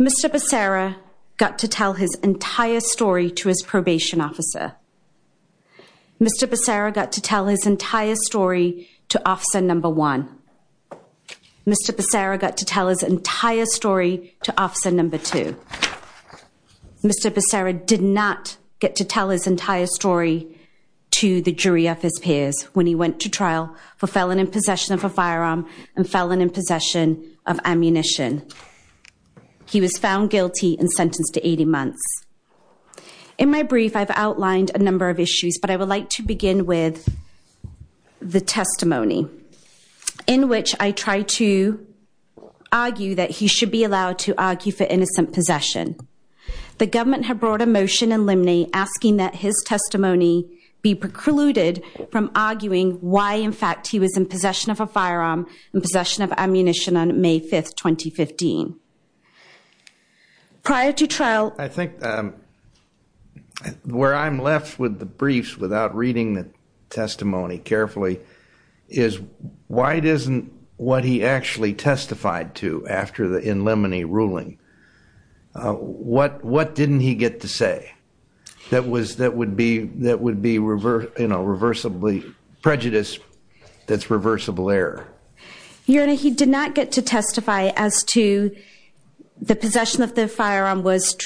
Mr. Becerra got to tell his entire story to his probation officer Mr. Becerra got to tell his entire story to officer number one. Mr. Becerra got to tell his entire story to officer number two. Mr. Becerra did not get to tell his entire story to the jury of his peers when he went to trial for felon in possession of a firearm and felon in possession of ammunition. He was found guilty and sentenced to 80 months. In my brief, I've outlined a number of issues, but I would like to begin with the testimony in which I try to argue that he should be allowed to argue for innocent possession. The government had brought a motion in limine asking that his testimony be precluded from arguing why in fact he was in possession of a firearm in possession of ammunition on May 5th, 2015. Prior to trial, I think where I'm left with the briefs without reading the testimony carefully is why it isn't what he actually testified to after the in limine ruling. What what didn't he get to say that was that would be that would be reverse, you know, reversibly prejudice that's reversible error. You know, he did not get to testify as to the possession of the firearm was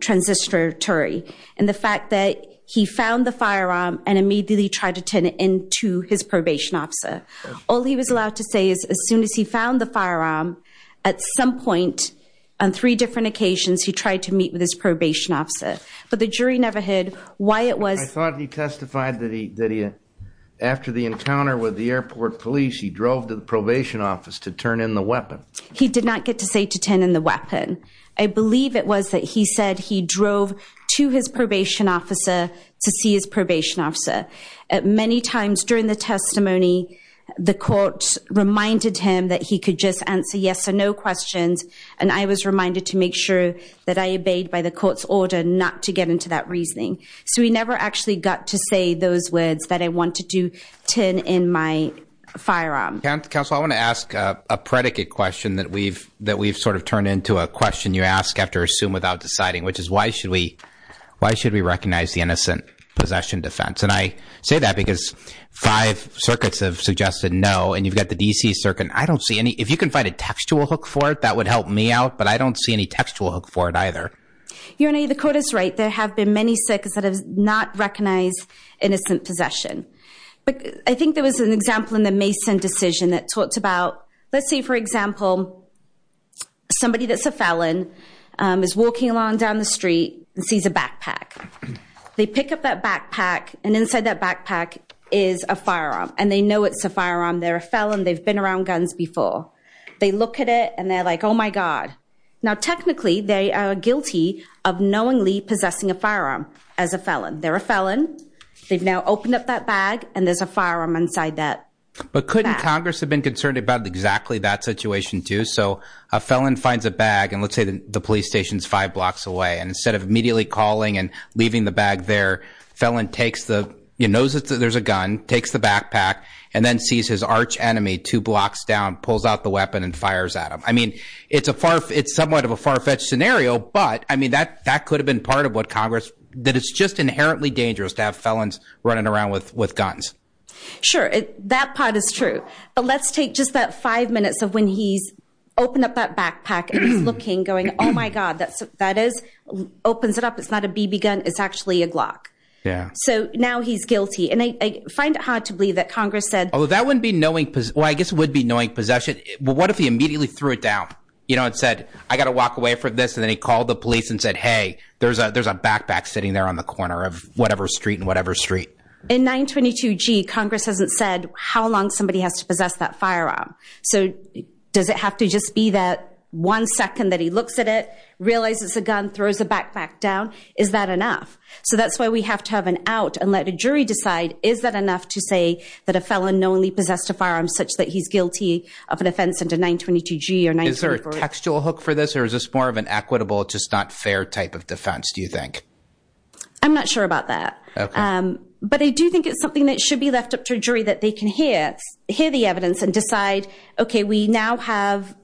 transistor Terry and the fact that he found the firearm and immediately tried to turn it into his probation officer. All he was allowed to say is, as soon as he found the firearm at some point on three different occasions, he tried to meet with his probation officer, but the jury never had why it was thought he testified that he did it. After the encounter with the airport police, he drove to the probation office to turn in the weapon. He did not get to say to 10 in the weapon. I believe it was that he said he drove to his probation officer to see his probation officer at many times during the testimony. The court reminded him that he could just answer yes or no questions, and I was reminded to make sure that I obeyed by the court's order not to get into that reasoning. So we never actually got to say those words that I want to do 10 in my firearm council. I want to ask a predicate question that we've that we've sort of turned into a question. You ask after assume without deciding, which is why should we? Why should we recognize the innocent possession defense? And I say that because five circuits have suggested no, and you've got the DC circuit. I don't see any. If you can find a textual hook for it, that would help me out. But I don't see any textual hook for it either. You're in a the court is right. There have been many circuits that have not recognized innocent possession, but I think there was an example in the Mason decision that talks about, let's say, for example. Somebody that's a felon is walking along down the street and sees a backpack. They pick up that backpack and inside that backpack is a firearm and they know it's a firearm. They're a felon. They've been around guns before. They look at it and they're like, oh, my God. Now, technically, they are guilty of knowingly possessing a firearm as a felon. They're a felon. They've now opened up that bag and there's a firearm inside that. But couldn't Congress have been concerned about exactly that situation, too? So a felon finds a bag and let's say the police station's five blocks away. And instead of immediately calling and leaving the bag there, felon takes the you knows that there's a gun, takes the backpack and then sees his arch enemy two blocks down, pulls out the weapon and fires at him. I mean, it's a far it's somewhat of a far fetched scenario. But I mean, that that could have been part of what Congress that it's just inherently dangerous to have felons running around with with guns. Sure. That part is true. But let's take just that five minutes of when he's opened up that backpack and looking, going, oh, my God, that's that is opens it up. It's not a BB gun. It's actually a Glock. Yeah. So now he's guilty. And I find it hard to believe that Congress said, oh, that wouldn't be knowing. Well, I guess would be knowing possession. Well, what if he immediately threw it down, you know, and said, I got to walk away from this. And then he called the police and said, hey, there's a there's a backpack sitting there on the corner of whatever street and whatever street in 922 G. Congress hasn't said how long somebody has to possess that firearm. So does it have to just be that one second that he looks at it, realizes a gun, throws a backpack down? Is that enough? So that's why we have to have an out and let a jury decide. Is that enough to say that a felon knowingly possessed a firearm such that he's guilty of an offense and a 922 G or nine? Is there a textual hook for this or is this more of an equitable, just not fair type of defense, do you think? I'm not sure about that. But I do think it's something that should be left up to a jury that they can hear, hear the evidence and decide, OK, we now have.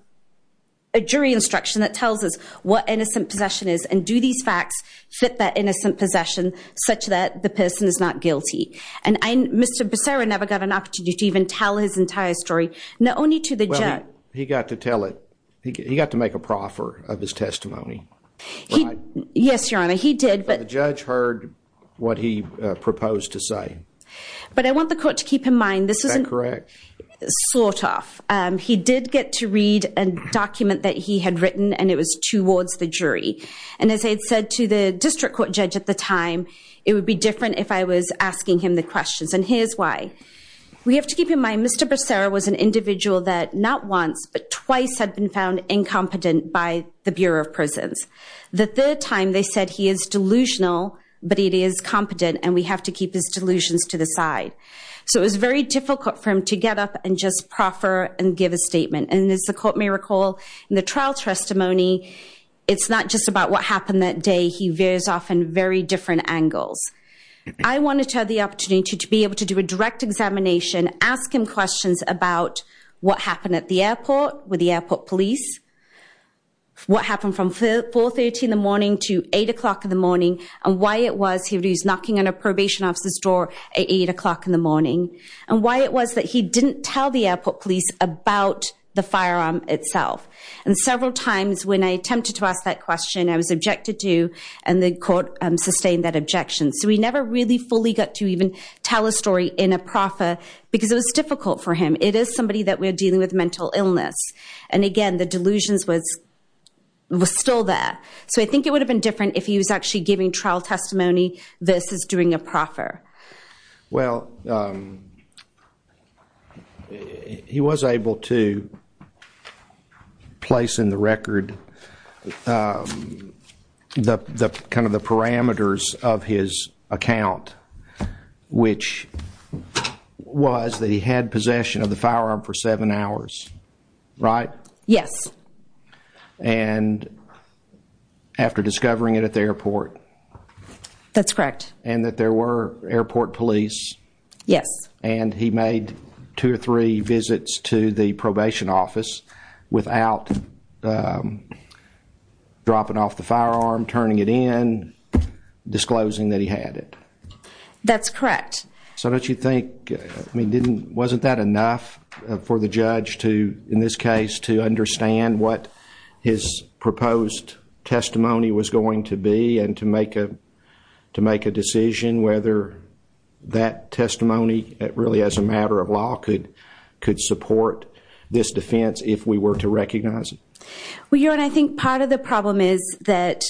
A jury instruction that tells us what innocent possession is and do these facts fit that innocent possession such that the person is not guilty and Mr. Becerra never got an opportunity to even tell his entire story, not only to the judge, he got to tell it, he got to make a proffer of his testimony. Yes, your honor, he did. But the judge heard what he proposed to say. But I want the court to keep in mind this isn't correct, sort of. He did get to read a document that he had written and it was towards the jury. And as I had said to the district court judge at the time, it would be different if I was asking him the questions. And here's why we have to keep in mind. Mr. Becerra was an individual that not once but twice had been found incompetent by the Bureau of Prisons. The third time they said he is delusional, but it is competent and we have to keep his delusions to the side. So it was very difficult for him to get up and just proffer and give a statement. And as the court may recall, in the trial testimony, it's not just about what happened that day. He veers off in very different angles. I wanted to have the opportunity to be able to do a direct examination, ask him questions about what happened at the airport with the airport police. What happened from 4.30 in the morning to 8 o'clock in the morning, and why it was he was knocking on a probation officer's door at 8 o'clock in the morning. And why it was that he didn't tell the airport police about the firearm itself. And several times when I attempted to ask that question, I was objected to and the court sustained that objection. So we never really fully got to even tell a story in a proffer because it was difficult for him. It is somebody that we're dealing with mental illness. And again, the delusions was still there. So I think it would have been different if he was actually giving trial testimony versus doing a proffer. Well, he was able to place in the record the kind of the parameters of his account, which was that he had possession of the firearm for seven hours, right? Yes. And after discovering it at the airport. That's correct. And that there were airport police. Yes. And he made two or three visits to the probation office without dropping off the firearm, turning it in, disclosing that he had it. That's correct. So don't you think, I mean, wasn't that enough for the judge to, in this case, to understand what his proposed testimony was going to be? And to make a decision whether that testimony really, as a matter of law, could support this defense if we were to recognize it? Well, your honor, I think part of the problem is that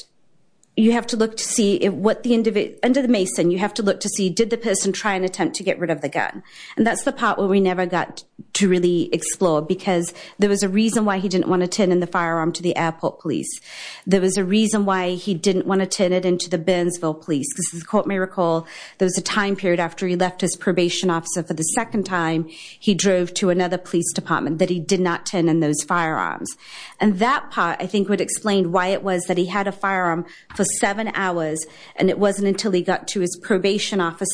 you have to look to see what the, under the mason, you have to look to see, did the person try and attempt to get rid of the gun? And that's the part where we never got to really explore, because there was a reason why he didn't want to turn in the firearm to the airport police. There was a reason why he didn't want to turn it into the Burnsville police. Because as the court may recall, there was a time period after he left his probation officer for the second time, he drove to another police department that he did not turn in those firearms. And that part, I think, would explain why it was that he had a firearm for seven hours, and it wasn't until he got to his probation office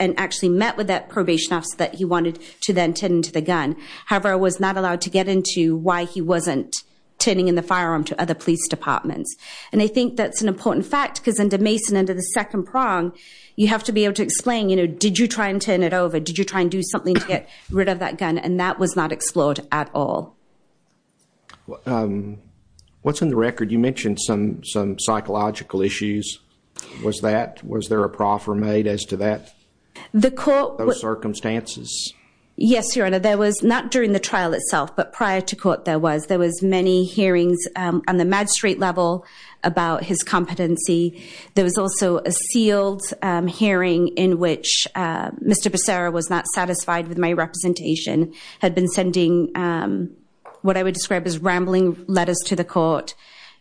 and actually met with that probation officer that he wanted to then turn into the gun. However, I was not allowed to get into why he wasn't turning in the firearm to other police departments. And I think that's an important fact, because under mason, under the second prong, you have to be able to explain, did you try and turn it over? Did you try and do something to get rid of that gun? And that was not explored at all. What's in the record? You mentioned some psychological issues. Was that, was there a proffer made as to that? The court- Those circumstances. Yes, your honor. There was, not during the trial itself, but prior to court there was. There was many hearings on the magistrate level about his competency. There was also a sealed hearing in which Mr. Bracera was not satisfied with my representation, had been sending what I would describe as rambling letters to the court.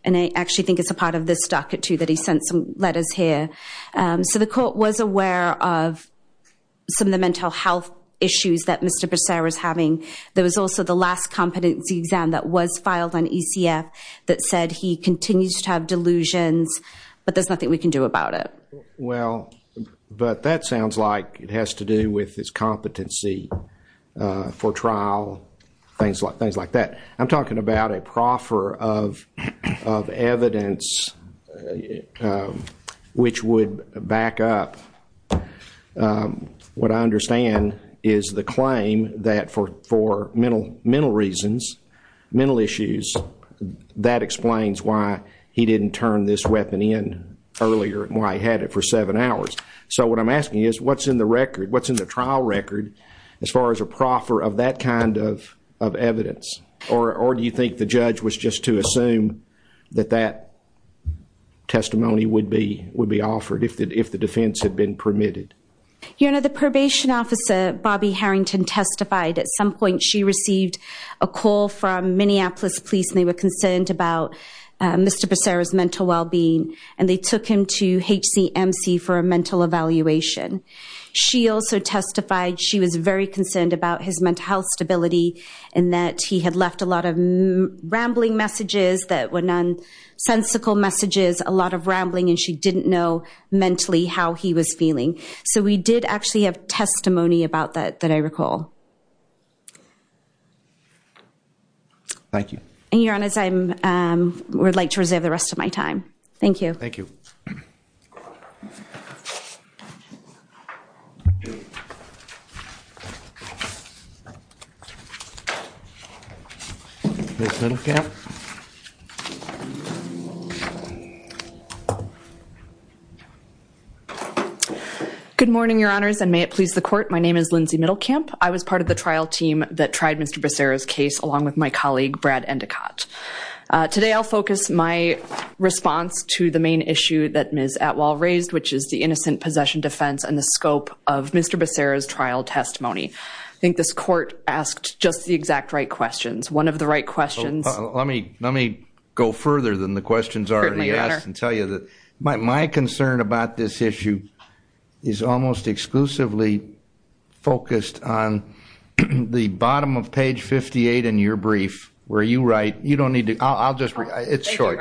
And I actually think it's a part of this docket, too, that he sent some letters here. So the court was aware of some of the mental health issues that Mr. Bracera's having. There was also the last competency exam that was filed on ECF that said he continues to have delusions, but there's nothing we can do about it. Well, but that sounds like it has to do with his competency for trial, things like that. I'm talking about a proffer of evidence which would back up what I understand is the claim that for mental reasons, mental issues, that explains why he didn't turn this weapon in earlier and why he had it for seven hours. So what I'm asking is, what's in the record? What's in the trial record as far as a proffer of that kind of evidence? Or do you think the judge was just to assume that that testimony would be offered if the defense had been permitted? Your honor, the probation officer, Bobby Harrington, testified. At some point, she received a call from Minneapolis police, and they were concerned about Mr. Bracera's mental well-being. And they took him to HCMC for a mental evaluation. She also testified she was very concerned about his mental health stability, and that he had left a lot of rambling messages that were nonsensical messages, a lot of rambling, and she didn't know mentally how he was feeling. So we did actually have testimony about that, that I recall. Thank you. And your honor, I would like to reserve the rest of my time. Thank you. Thank you. Miss Littlecap. Good morning, your honors, and may it please the court. My name is Lindsay Middlecamp. I was part of the trial team that tried Mr. Bracera's case, along with my colleague, Brad Endicott. Today, I'll focus my response to the main issue that Ms. Atwell raised, which is the innocent possession defense and the scope of Mr. Bracera's trial testimony. I think this court asked just the exact right questions. One of the right questions- Let me go further than the questions already asked and tell you that my concern about this issue. Is almost exclusively focused on the bottom of page 58 in your brief, where you write, you don't need to, I'll just, it's short.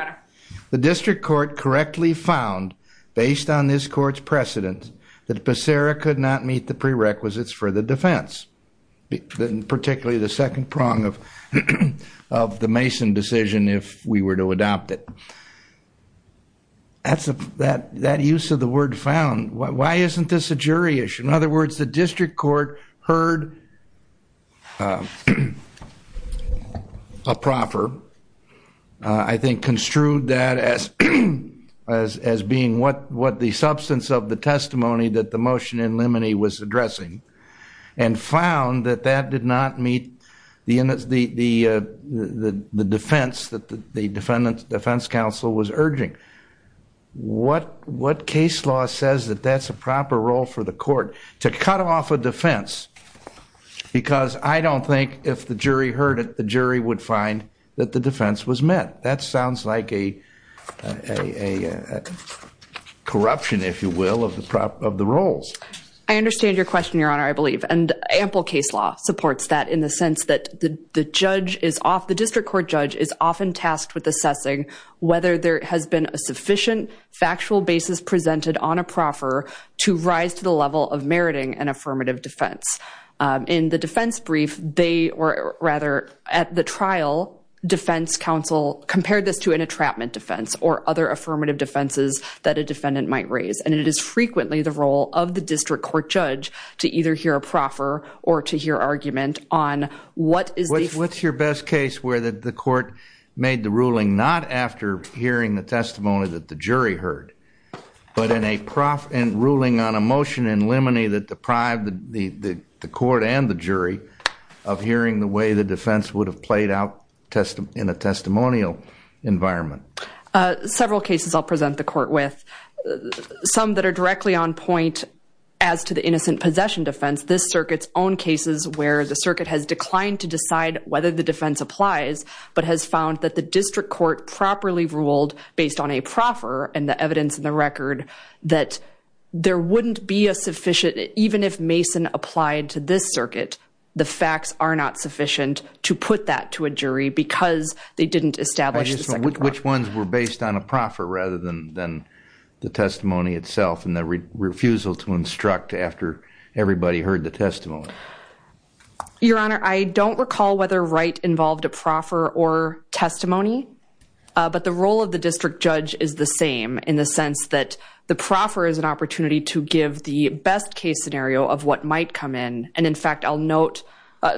The district court correctly found, based on this court's precedent, that Bracera could not meet the prerequisites for the defense. Particularly the second prong of the Mason decision, if we were to adopt it. That use of the word found, why isn't this a jury issue? In other words, the district court heard a proffer. I think construed that as being what the substance of the testimony that the motion in limine was addressing. And found that that did not meet the defense, that the defendant's defense counsel was urging. What case law says that that's a proper role for the court to cut off a defense? Because I don't think if the jury heard it, the jury would find that the defense was met. That sounds like a corruption, if you will, of the roles. I understand your question, Your Honor, I believe. And ample case law supports that in the sense that the judge is off, the district court judge is often tasked with assessing whether there has been a sufficient factual basis presented on a proffer to rise to the level of meriting an affirmative defense. In the defense brief, they were rather at the trial, defense counsel compared this to an entrapment defense or other affirmative defenses that a defendant might raise. And it is frequently the role of the district court judge to either hear a proffer or to hear argument on what is the- where the court made the ruling not after hearing the testimony that the jury heard. But in a ruling on a motion in limine that deprived the court and the jury of hearing the way the defense would have played out in a testimonial environment. Several cases I'll present the court with. Some that are directly on point as to the innocent possession defense. This circuit's own cases where the circuit has declined to decide whether the defense applies, but has found that the district court properly ruled based on a proffer and the evidence in the record that there wouldn't be a sufficient, even if Mason applied to this circuit, the facts are not sufficient to put that to a jury because they didn't establish the second proffer. Which ones were based on a proffer rather than the testimony itself and the refusal to instruct after everybody heard the testimony? Your Honor, I don't recall whether Wright involved a proffer or testimony. But the role of the district judge is the same in the sense that the proffer is an opportunity to give the best case scenario of what might come in. And in fact, I'll note,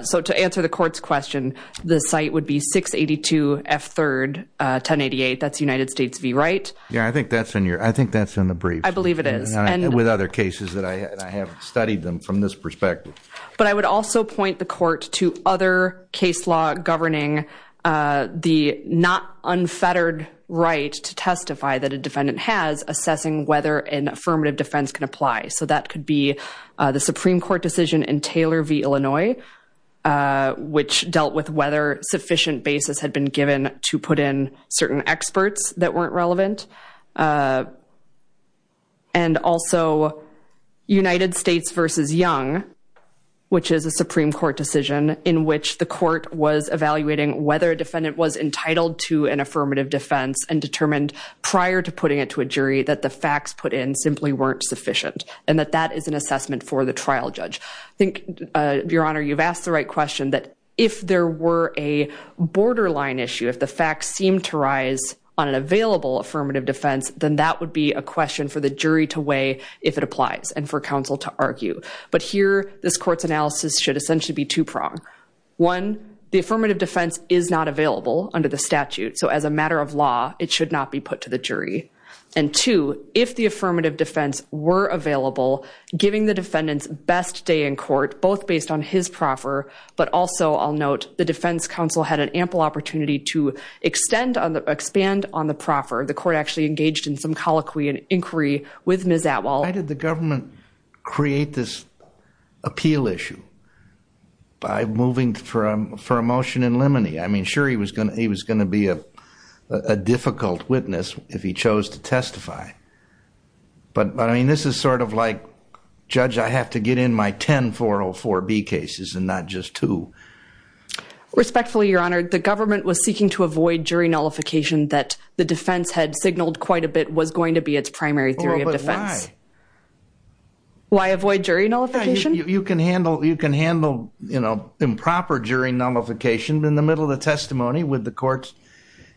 so to answer the court's question, the site would be 682 F 3rd, 1088, that's United States v Wright. Yeah, I think that's in your, I think that's in the briefs. I believe it is. And with other cases that I have studied them from this perspective. But I would also point the court to other case law governing the not unfettered right to testify that a defendant has assessing whether an affirmative defense can apply. So that could be the Supreme Court decision in Taylor v Illinois, which dealt with whether sufficient basis had been given to put in certain experts that weren't relevant. And also United States v Young, which is a Supreme Court decision in which the court was evaluating whether a defendant was entitled to an affirmative defense and determined prior to putting it to a jury that the facts put in simply weren't sufficient. And that that is an assessment for the trial judge. I think, Your Honor, you've asked the right question that if there were a borderline issue, if the facts seem to rise on an available affirmative defense, then that would be a question for the jury to weigh if it applies and for counsel to argue. But here, this court's analysis should essentially be two prong. One, the affirmative defense is not available under the statute. So as a matter of law, it should not be put to the jury. And two, if the affirmative defense were available, giving the defendant's best day in court, both based on his proffer, but also, I'll note, the defense counsel had an ample opportunity to extend on the, expand on the proffer. The court actually engaged in some colloquy and inquiry with Ms. Atwal. Why did the government create this appeal issue by moving for a motion in limine? I mean, sure, he was going to be a difficult witness if he chose to testify. But, I mean, this is sort of like, Judge, I have to get in my 10-404-B cases and not just two. Respectfully, Your Honor, the government was seeking to avoid jury nullification that the defense had signaled quite a bit was going to be its primary theory of defense. Well, but why? Why avoid jury nullification? You can handle, you know, improper jury nullification in the middle of the testimony with the courts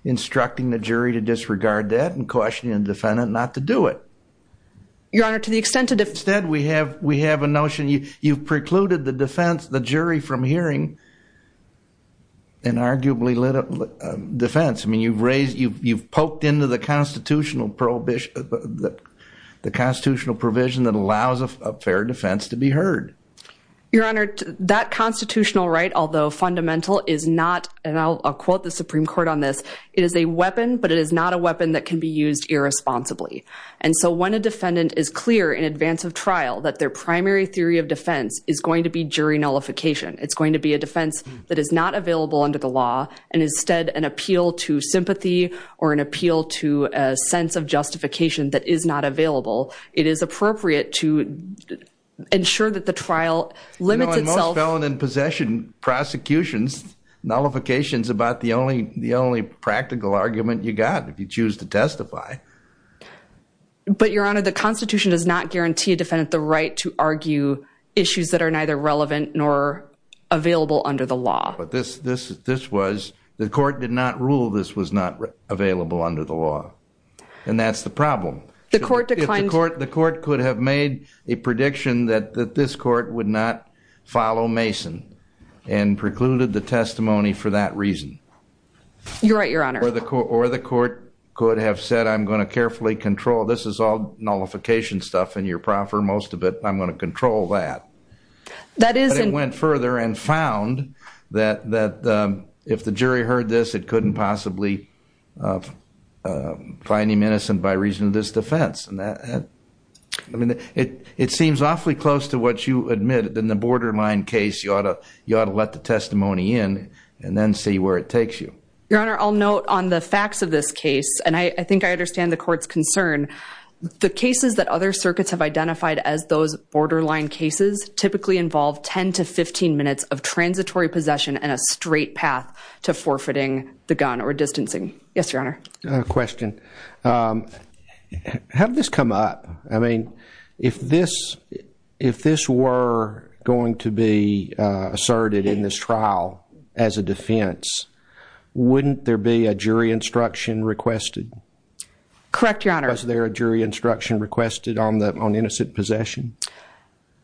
instructing the jury to disregard that and cautioning the defendant not to do it. Your Honor, to the extent that if- Instead, we have a notion you've precluded the defense, the jury, from hearing an arguably lit defense. I mean, you've raised, you've poked into the constitutional provision that allows a fair defense to be heard. Your Honor, that constitutional right, although fundamental, is not, and I'll quote the Supreme Court on this, it is a weapon, but it is not a weapon that can be used irresponsibly. And so when a defendant is clear in advance of trial that their primary theory of defense is going to be jury nullification, it's going to be a defense that is not available under the law, and instead an appeal to sympathy or an appeal to a sense of justification that is not available, it is appropriate to ensure that the trial limits itself- I mean, prosecutions, nullification's about the only practical argument you got if you choose to testify. But, Your Honor, the Constitution does not guarantee a defendant the right to argue issues that are neither relevant nor available under the law. But this was, the court did not rule this was not available under the law, and that's the problem. The court declined- And precluded the testimony for that reason. You're right, Your Honor. Or the court could have said, I'm going to carefully control, this is all nullification stuff in your proffer, most of it, I'm going to control that. That is- But it went further and found that if the jury heard this, it couldn't possibly find him innocent by reason of this defense. It seems awfully close to what you admitted in the borderline case, you ought to let the testimony in and then see where it takes you. Your Honor, I'll note on the facts of this case, and I think I understand the court's concern, the cases that other circuits have identified as those borderline cases typically involve 10 to 15 minutes of transitory possession and a straight path to forfeiting the gun or distancing. Yes, Your Honor. I have a question. How did this come up? I mean, if this were going to be asserted in this trial as a defense, wouldn't there be a jury instruction requested? Correct, Your Honor. Was there a jury instruction requested on innocent possession?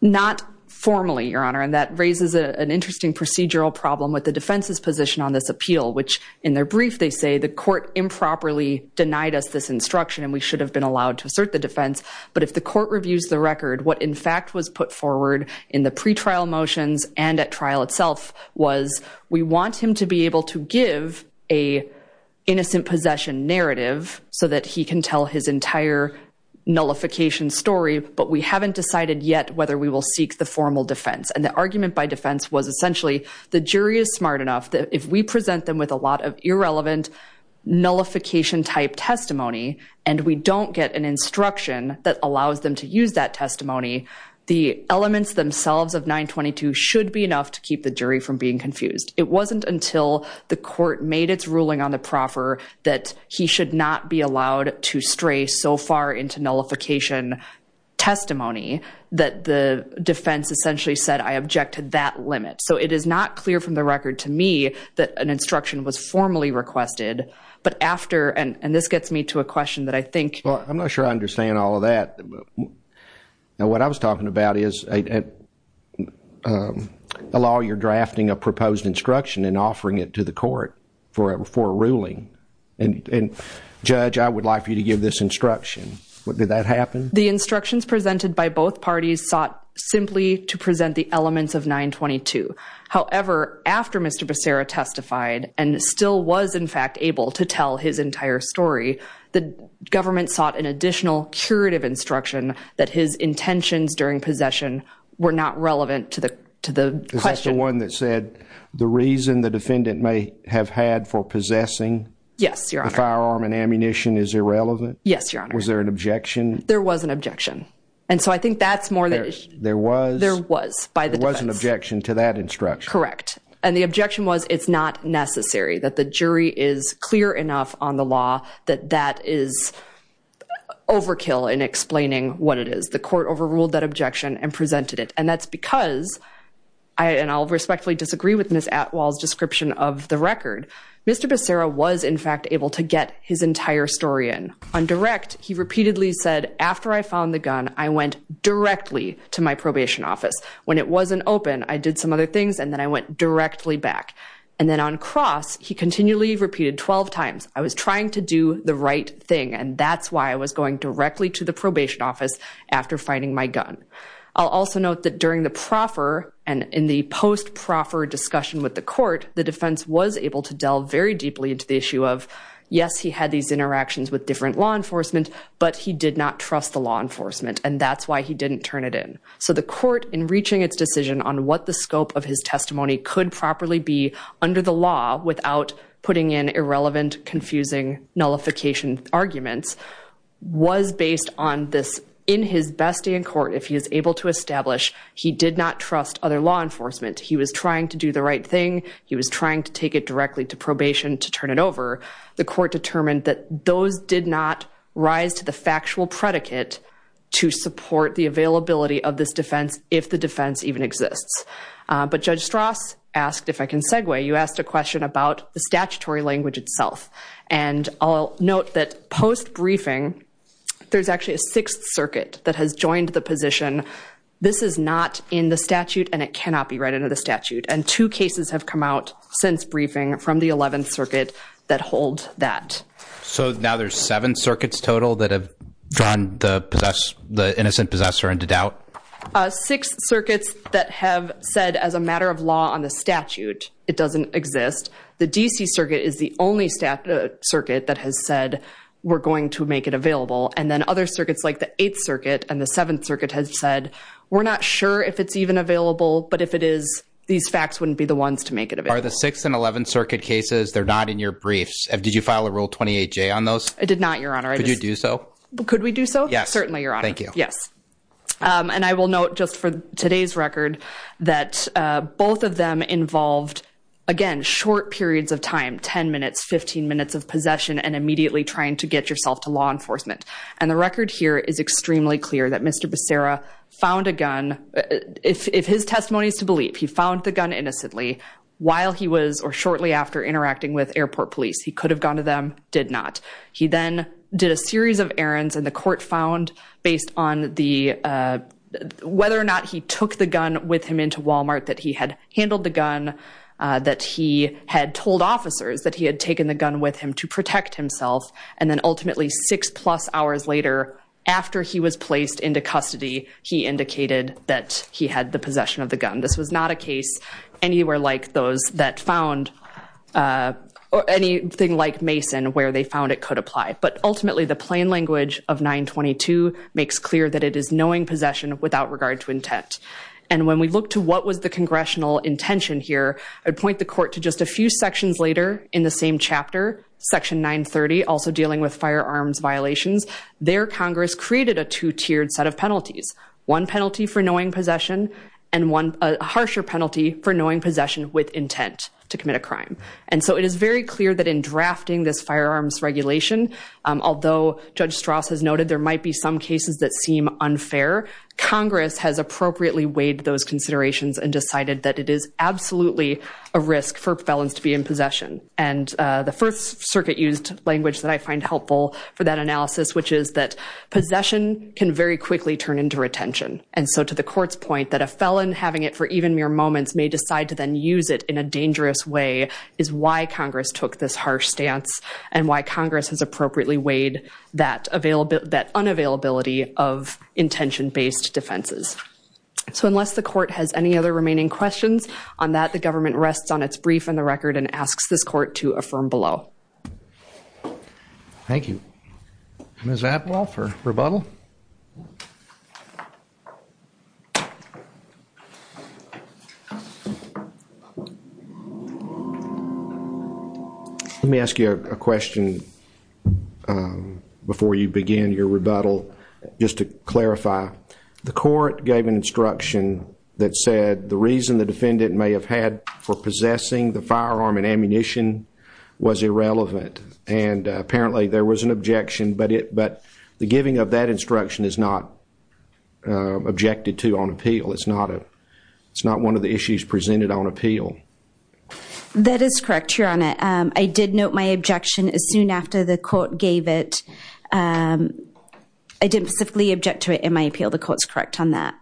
Not formally, Your Honor, and that raises an interesting procedural problem with the defense's position on this appeal, which in their brief they say the court improperly denied us this instruction and we should have been allowed to assert the defense. But if the court reviews the record, what in fact was put forward in the pretrial motions and at trial itself was we want him to be able to give a innocent possession narrative so that he can tell his entire nullification story, but we haven't decided yet whether we will seek the formal defense. And the argument by defense was essentially the jury is smart enough that if we present them with a lot of irrelevant nullification-type testimony and we don't get an instruction that allows them to use that testimony, the elements themselves of 922 should be enough to keep the jury from being confused. It wasn't until the court made its ruling on the proffer that he should not be allowed to stray so far into nullification testimony that the defense essentially said, I object to that limit. So it is not clear from the record to me that an instruction was formally requested, but after, and this gets me to a question that I think. Well, I'm not sure I understand all of that. What I was talking about is a law you're drafting a proposed instruction and offering it to the court for a ruling. And Judge, I would like for you to give this instruction. Did that happen? The instructions presented by both parties sought simply to present the elements of 922. However, after Mr. Becerra testified and still was in fact able to tell his entire story, the government sought an additional curative instruction that his intentions during possession were not relevant to the question. Is this the one that said the reason the defendant may have had for possessing the firearm and ammunition is irrelevant? Yes, Your Honor. Was there an objection? There was an objection. And so I think that's more than there was. There was an objection to that instruction. Correct. And the objection was it's not necessary that the jury is clear enough on the law that that is overkill in explaining what it is. The court overruled that objection and presented it. And that's because I and I'll respectfully disagree with Ms. Atwell's description of the record. Mr. Becerra was in fact able to get his entire story in. On direct, he repeatedly said, after I found the gun, I went directly to my probation office. When it wasn't open, I did some other things, and then I went directly back. And then on cross, he continually repeated 12 times, I was trying to do the right thing, and that's why I was going directly to the probation office after finding my gun. I'll also note that during the proffer and in the post-proffer discussion with the court, the defense was able to delve very deeply into the issue of, yes, he had these interactions with different law enforcement, but he did not trust the law enforcement, and that's why he didn't turn it in. So the court, in reaching its decision on what the scope of his testimony could properly be under the law without putting in irrelevant, confusing, nullification arguments, was based on this. In his best day in court, if he is able to establish he did not trust other law enforcement, he was trying to do the right thing, he was trying to take it directly to probation to turn it over, the court determined that those did not rise to the factual predicate to support the availability of this defense, if the defense even exists. But Judge Strauss asked, if I can segue, you asked a question about the statutory language itself. And I'll note that post-briefing, there's actually a Sixth Circuit that has joined the position, this is not in the statute and it cannot be read into the statute. And two cases have come out since briefing from the Eleventh Circuit that hold that. So now there's seven circuits total that have drawn the innocent possessor into doubt? Six circuits that have said as a matter of law on the statute it doesn't exist. The D.C. Circuit is the only circuit that has said we're going to make it available. And then other circuits like the Eighth Circuit and the Seventh Circuit has said, we're not sure if it's even available, but if it is, these facts wouldn't be the ones to make it available. Are the Sixth and Eleventh Circuit cases, they're not in your briefs? Did you file a Rule 28J on those? I did not, Your Honor. Could you do so? Could we do so? Yes. Certainly, Your Honor. Thank you. Yes. And I will note just for today's record that both of them involved, again, short periods of time, 10 minutes, 15 minutes of possession and immediately trying to get yourself to law enforcement. And the record here is extremely clear that Mr. Becerra found a gun, if his testimony is to believe, he found the gun innocently while he was or shortly after interacting with airport police. He could have gone to them, did not. He then did a series of errands and the court found based on whether or not he took the gun with him into Walmart, that he had handled the gun, that he had told officers that he had taken the gun with him to protect himself, and then ultimately six-plus hours later, after he was placed into custody, he indicated that he had the possession of the gun. This was not a case anywhere like those that found or anything like Mason where they found it could apply. But ultimately, the plain language of 922 makes clear that it is knowing possession without regard to intent. And when we look to what was the congressional intention here, I would point the court to just a few sections later in the same chapter, Section 930, also dealing with firearms violations, there Congress created a two-tiered set of penalties, one penalty for knowing possession and one harsher penalty for knowing possession with intent to commit a crime. And so it is very clear that in drafting this firearms regulation, although Judge Strauss has noted there might be some cases that seem unfair, Congress has appropriately weighed those considerations and decided that it is absolutely a risk for felons to be in possession. And the first circuit-used language that I find helpful for that analysis, which is that possession can very quickly turn into retention. And so to the court's point that a felon having it for even mere moments may decide to then use it in a dangerous way is why Congress took this harsh stance and why Congress has appropriately weighed that unavailability of intention-based defenses. So unless the court has any other remaining questions on that, the government rests on its brief and the record and asks this court to affirm below. Thank you. Ms. Atwell for rebuttal? Let me ask you a question before you begin your rebuttal, just to clarify. The court gave an instruction that said the reason the defendant may have had for possessing the firearm and ammunition was irrelevant. And apparently there was an objection, but the giving of that instruction is not objected to on appeal. It's not one of the issues presented on appeal. That is correct, Your Honor. I did note my objection as soon after the court gave it. I didn't specifically object to it in my appeal. The court's correct on that.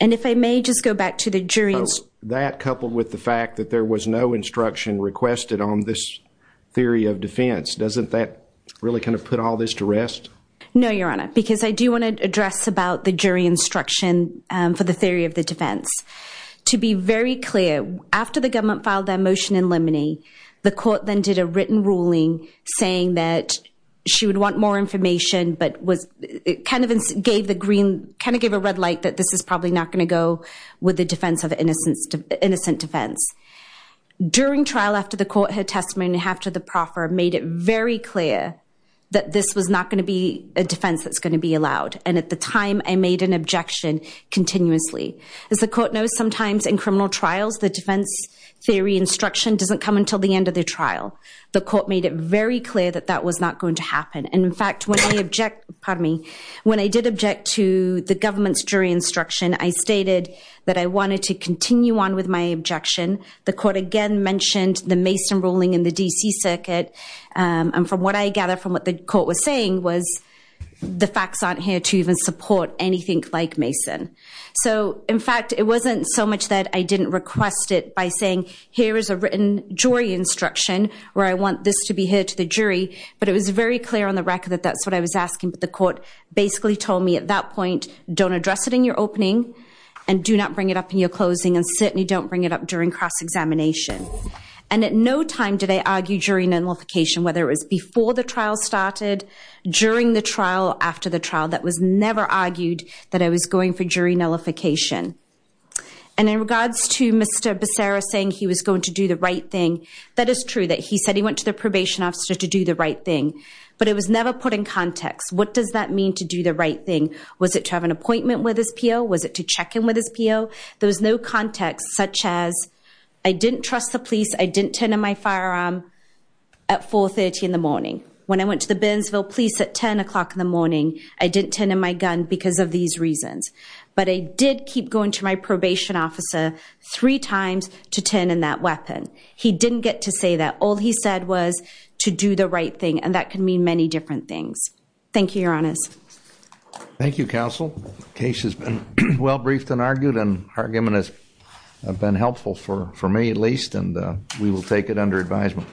And if I may just go back to the jury's- that coupled with the fact that there was no instruction requested on this theory of defense, doesn't that really kind of put all this to rest? No, Your Honor, because I do want to address about the jury instruction for the theory of the defense. To be very clear, after the government filed their motion in limine, the court then did a written ruling saying that she would want more information, but it kind of gave a red light that this is probably not going to go with the defense of innocent defense. During trial, after the court heard testimony, after the proffer made it very clear that this was not going to be a defense that's going to be allowed. And at the time, I made an objection continuously. As the court knows, sometimes in criminal trials, the defense theory instruction doesn't come until the end of the trial. The court made it very clear that that was not going to happen. And, in fact, when I object-pardon me-when I did object to the government's jury instruction, I stated that I wanted to continue on with my objection. The court again mentioned the Mason ruling in the D.C. Circuit, and from what I gather from what the court was saying was the facts aren't here to even support anything like Mason. So, in fact, it wasn't so much that I didn't request it by saying, here is a written jury instruction where I want this to be heard to the jury, but it was very clear on the record that that's what I was asking. But the court basically told me at that point, don't address it in your opening, and do not bring it up in your closing, and certainly don't bring it up during cross-examination. And at no time did I argue jury nullification, whether it was before the trial started, during the trial, or after the trial, that was never argued that I was going for jury nullification. And in regards to Mr. Becerra saying he was going to do the right thing, that is true that he said he went to the probation officer to do the right thing, but it was never put in context. What does that mean to do the right thing? Was it to have an appointment with his P.O.? Was it to check in with his P.O.? There was no context such as, I didn't trust the police. I didn't turn in my firearm at 4.30 in the morning. When I went to the Burnsville police at 10 o'clock in the morning, I didn't turn in my gun because of these reasons. But I did keep going to my probation officer three times to turn in that weapon. He didn't get to say that. All he said was to do the right thing, and that can mean many different things. Thank you, Your Honors. Thank you, Counsel. The case has been well briefed and argued, and argument has been helpful for me at least, and we will take it under advisement.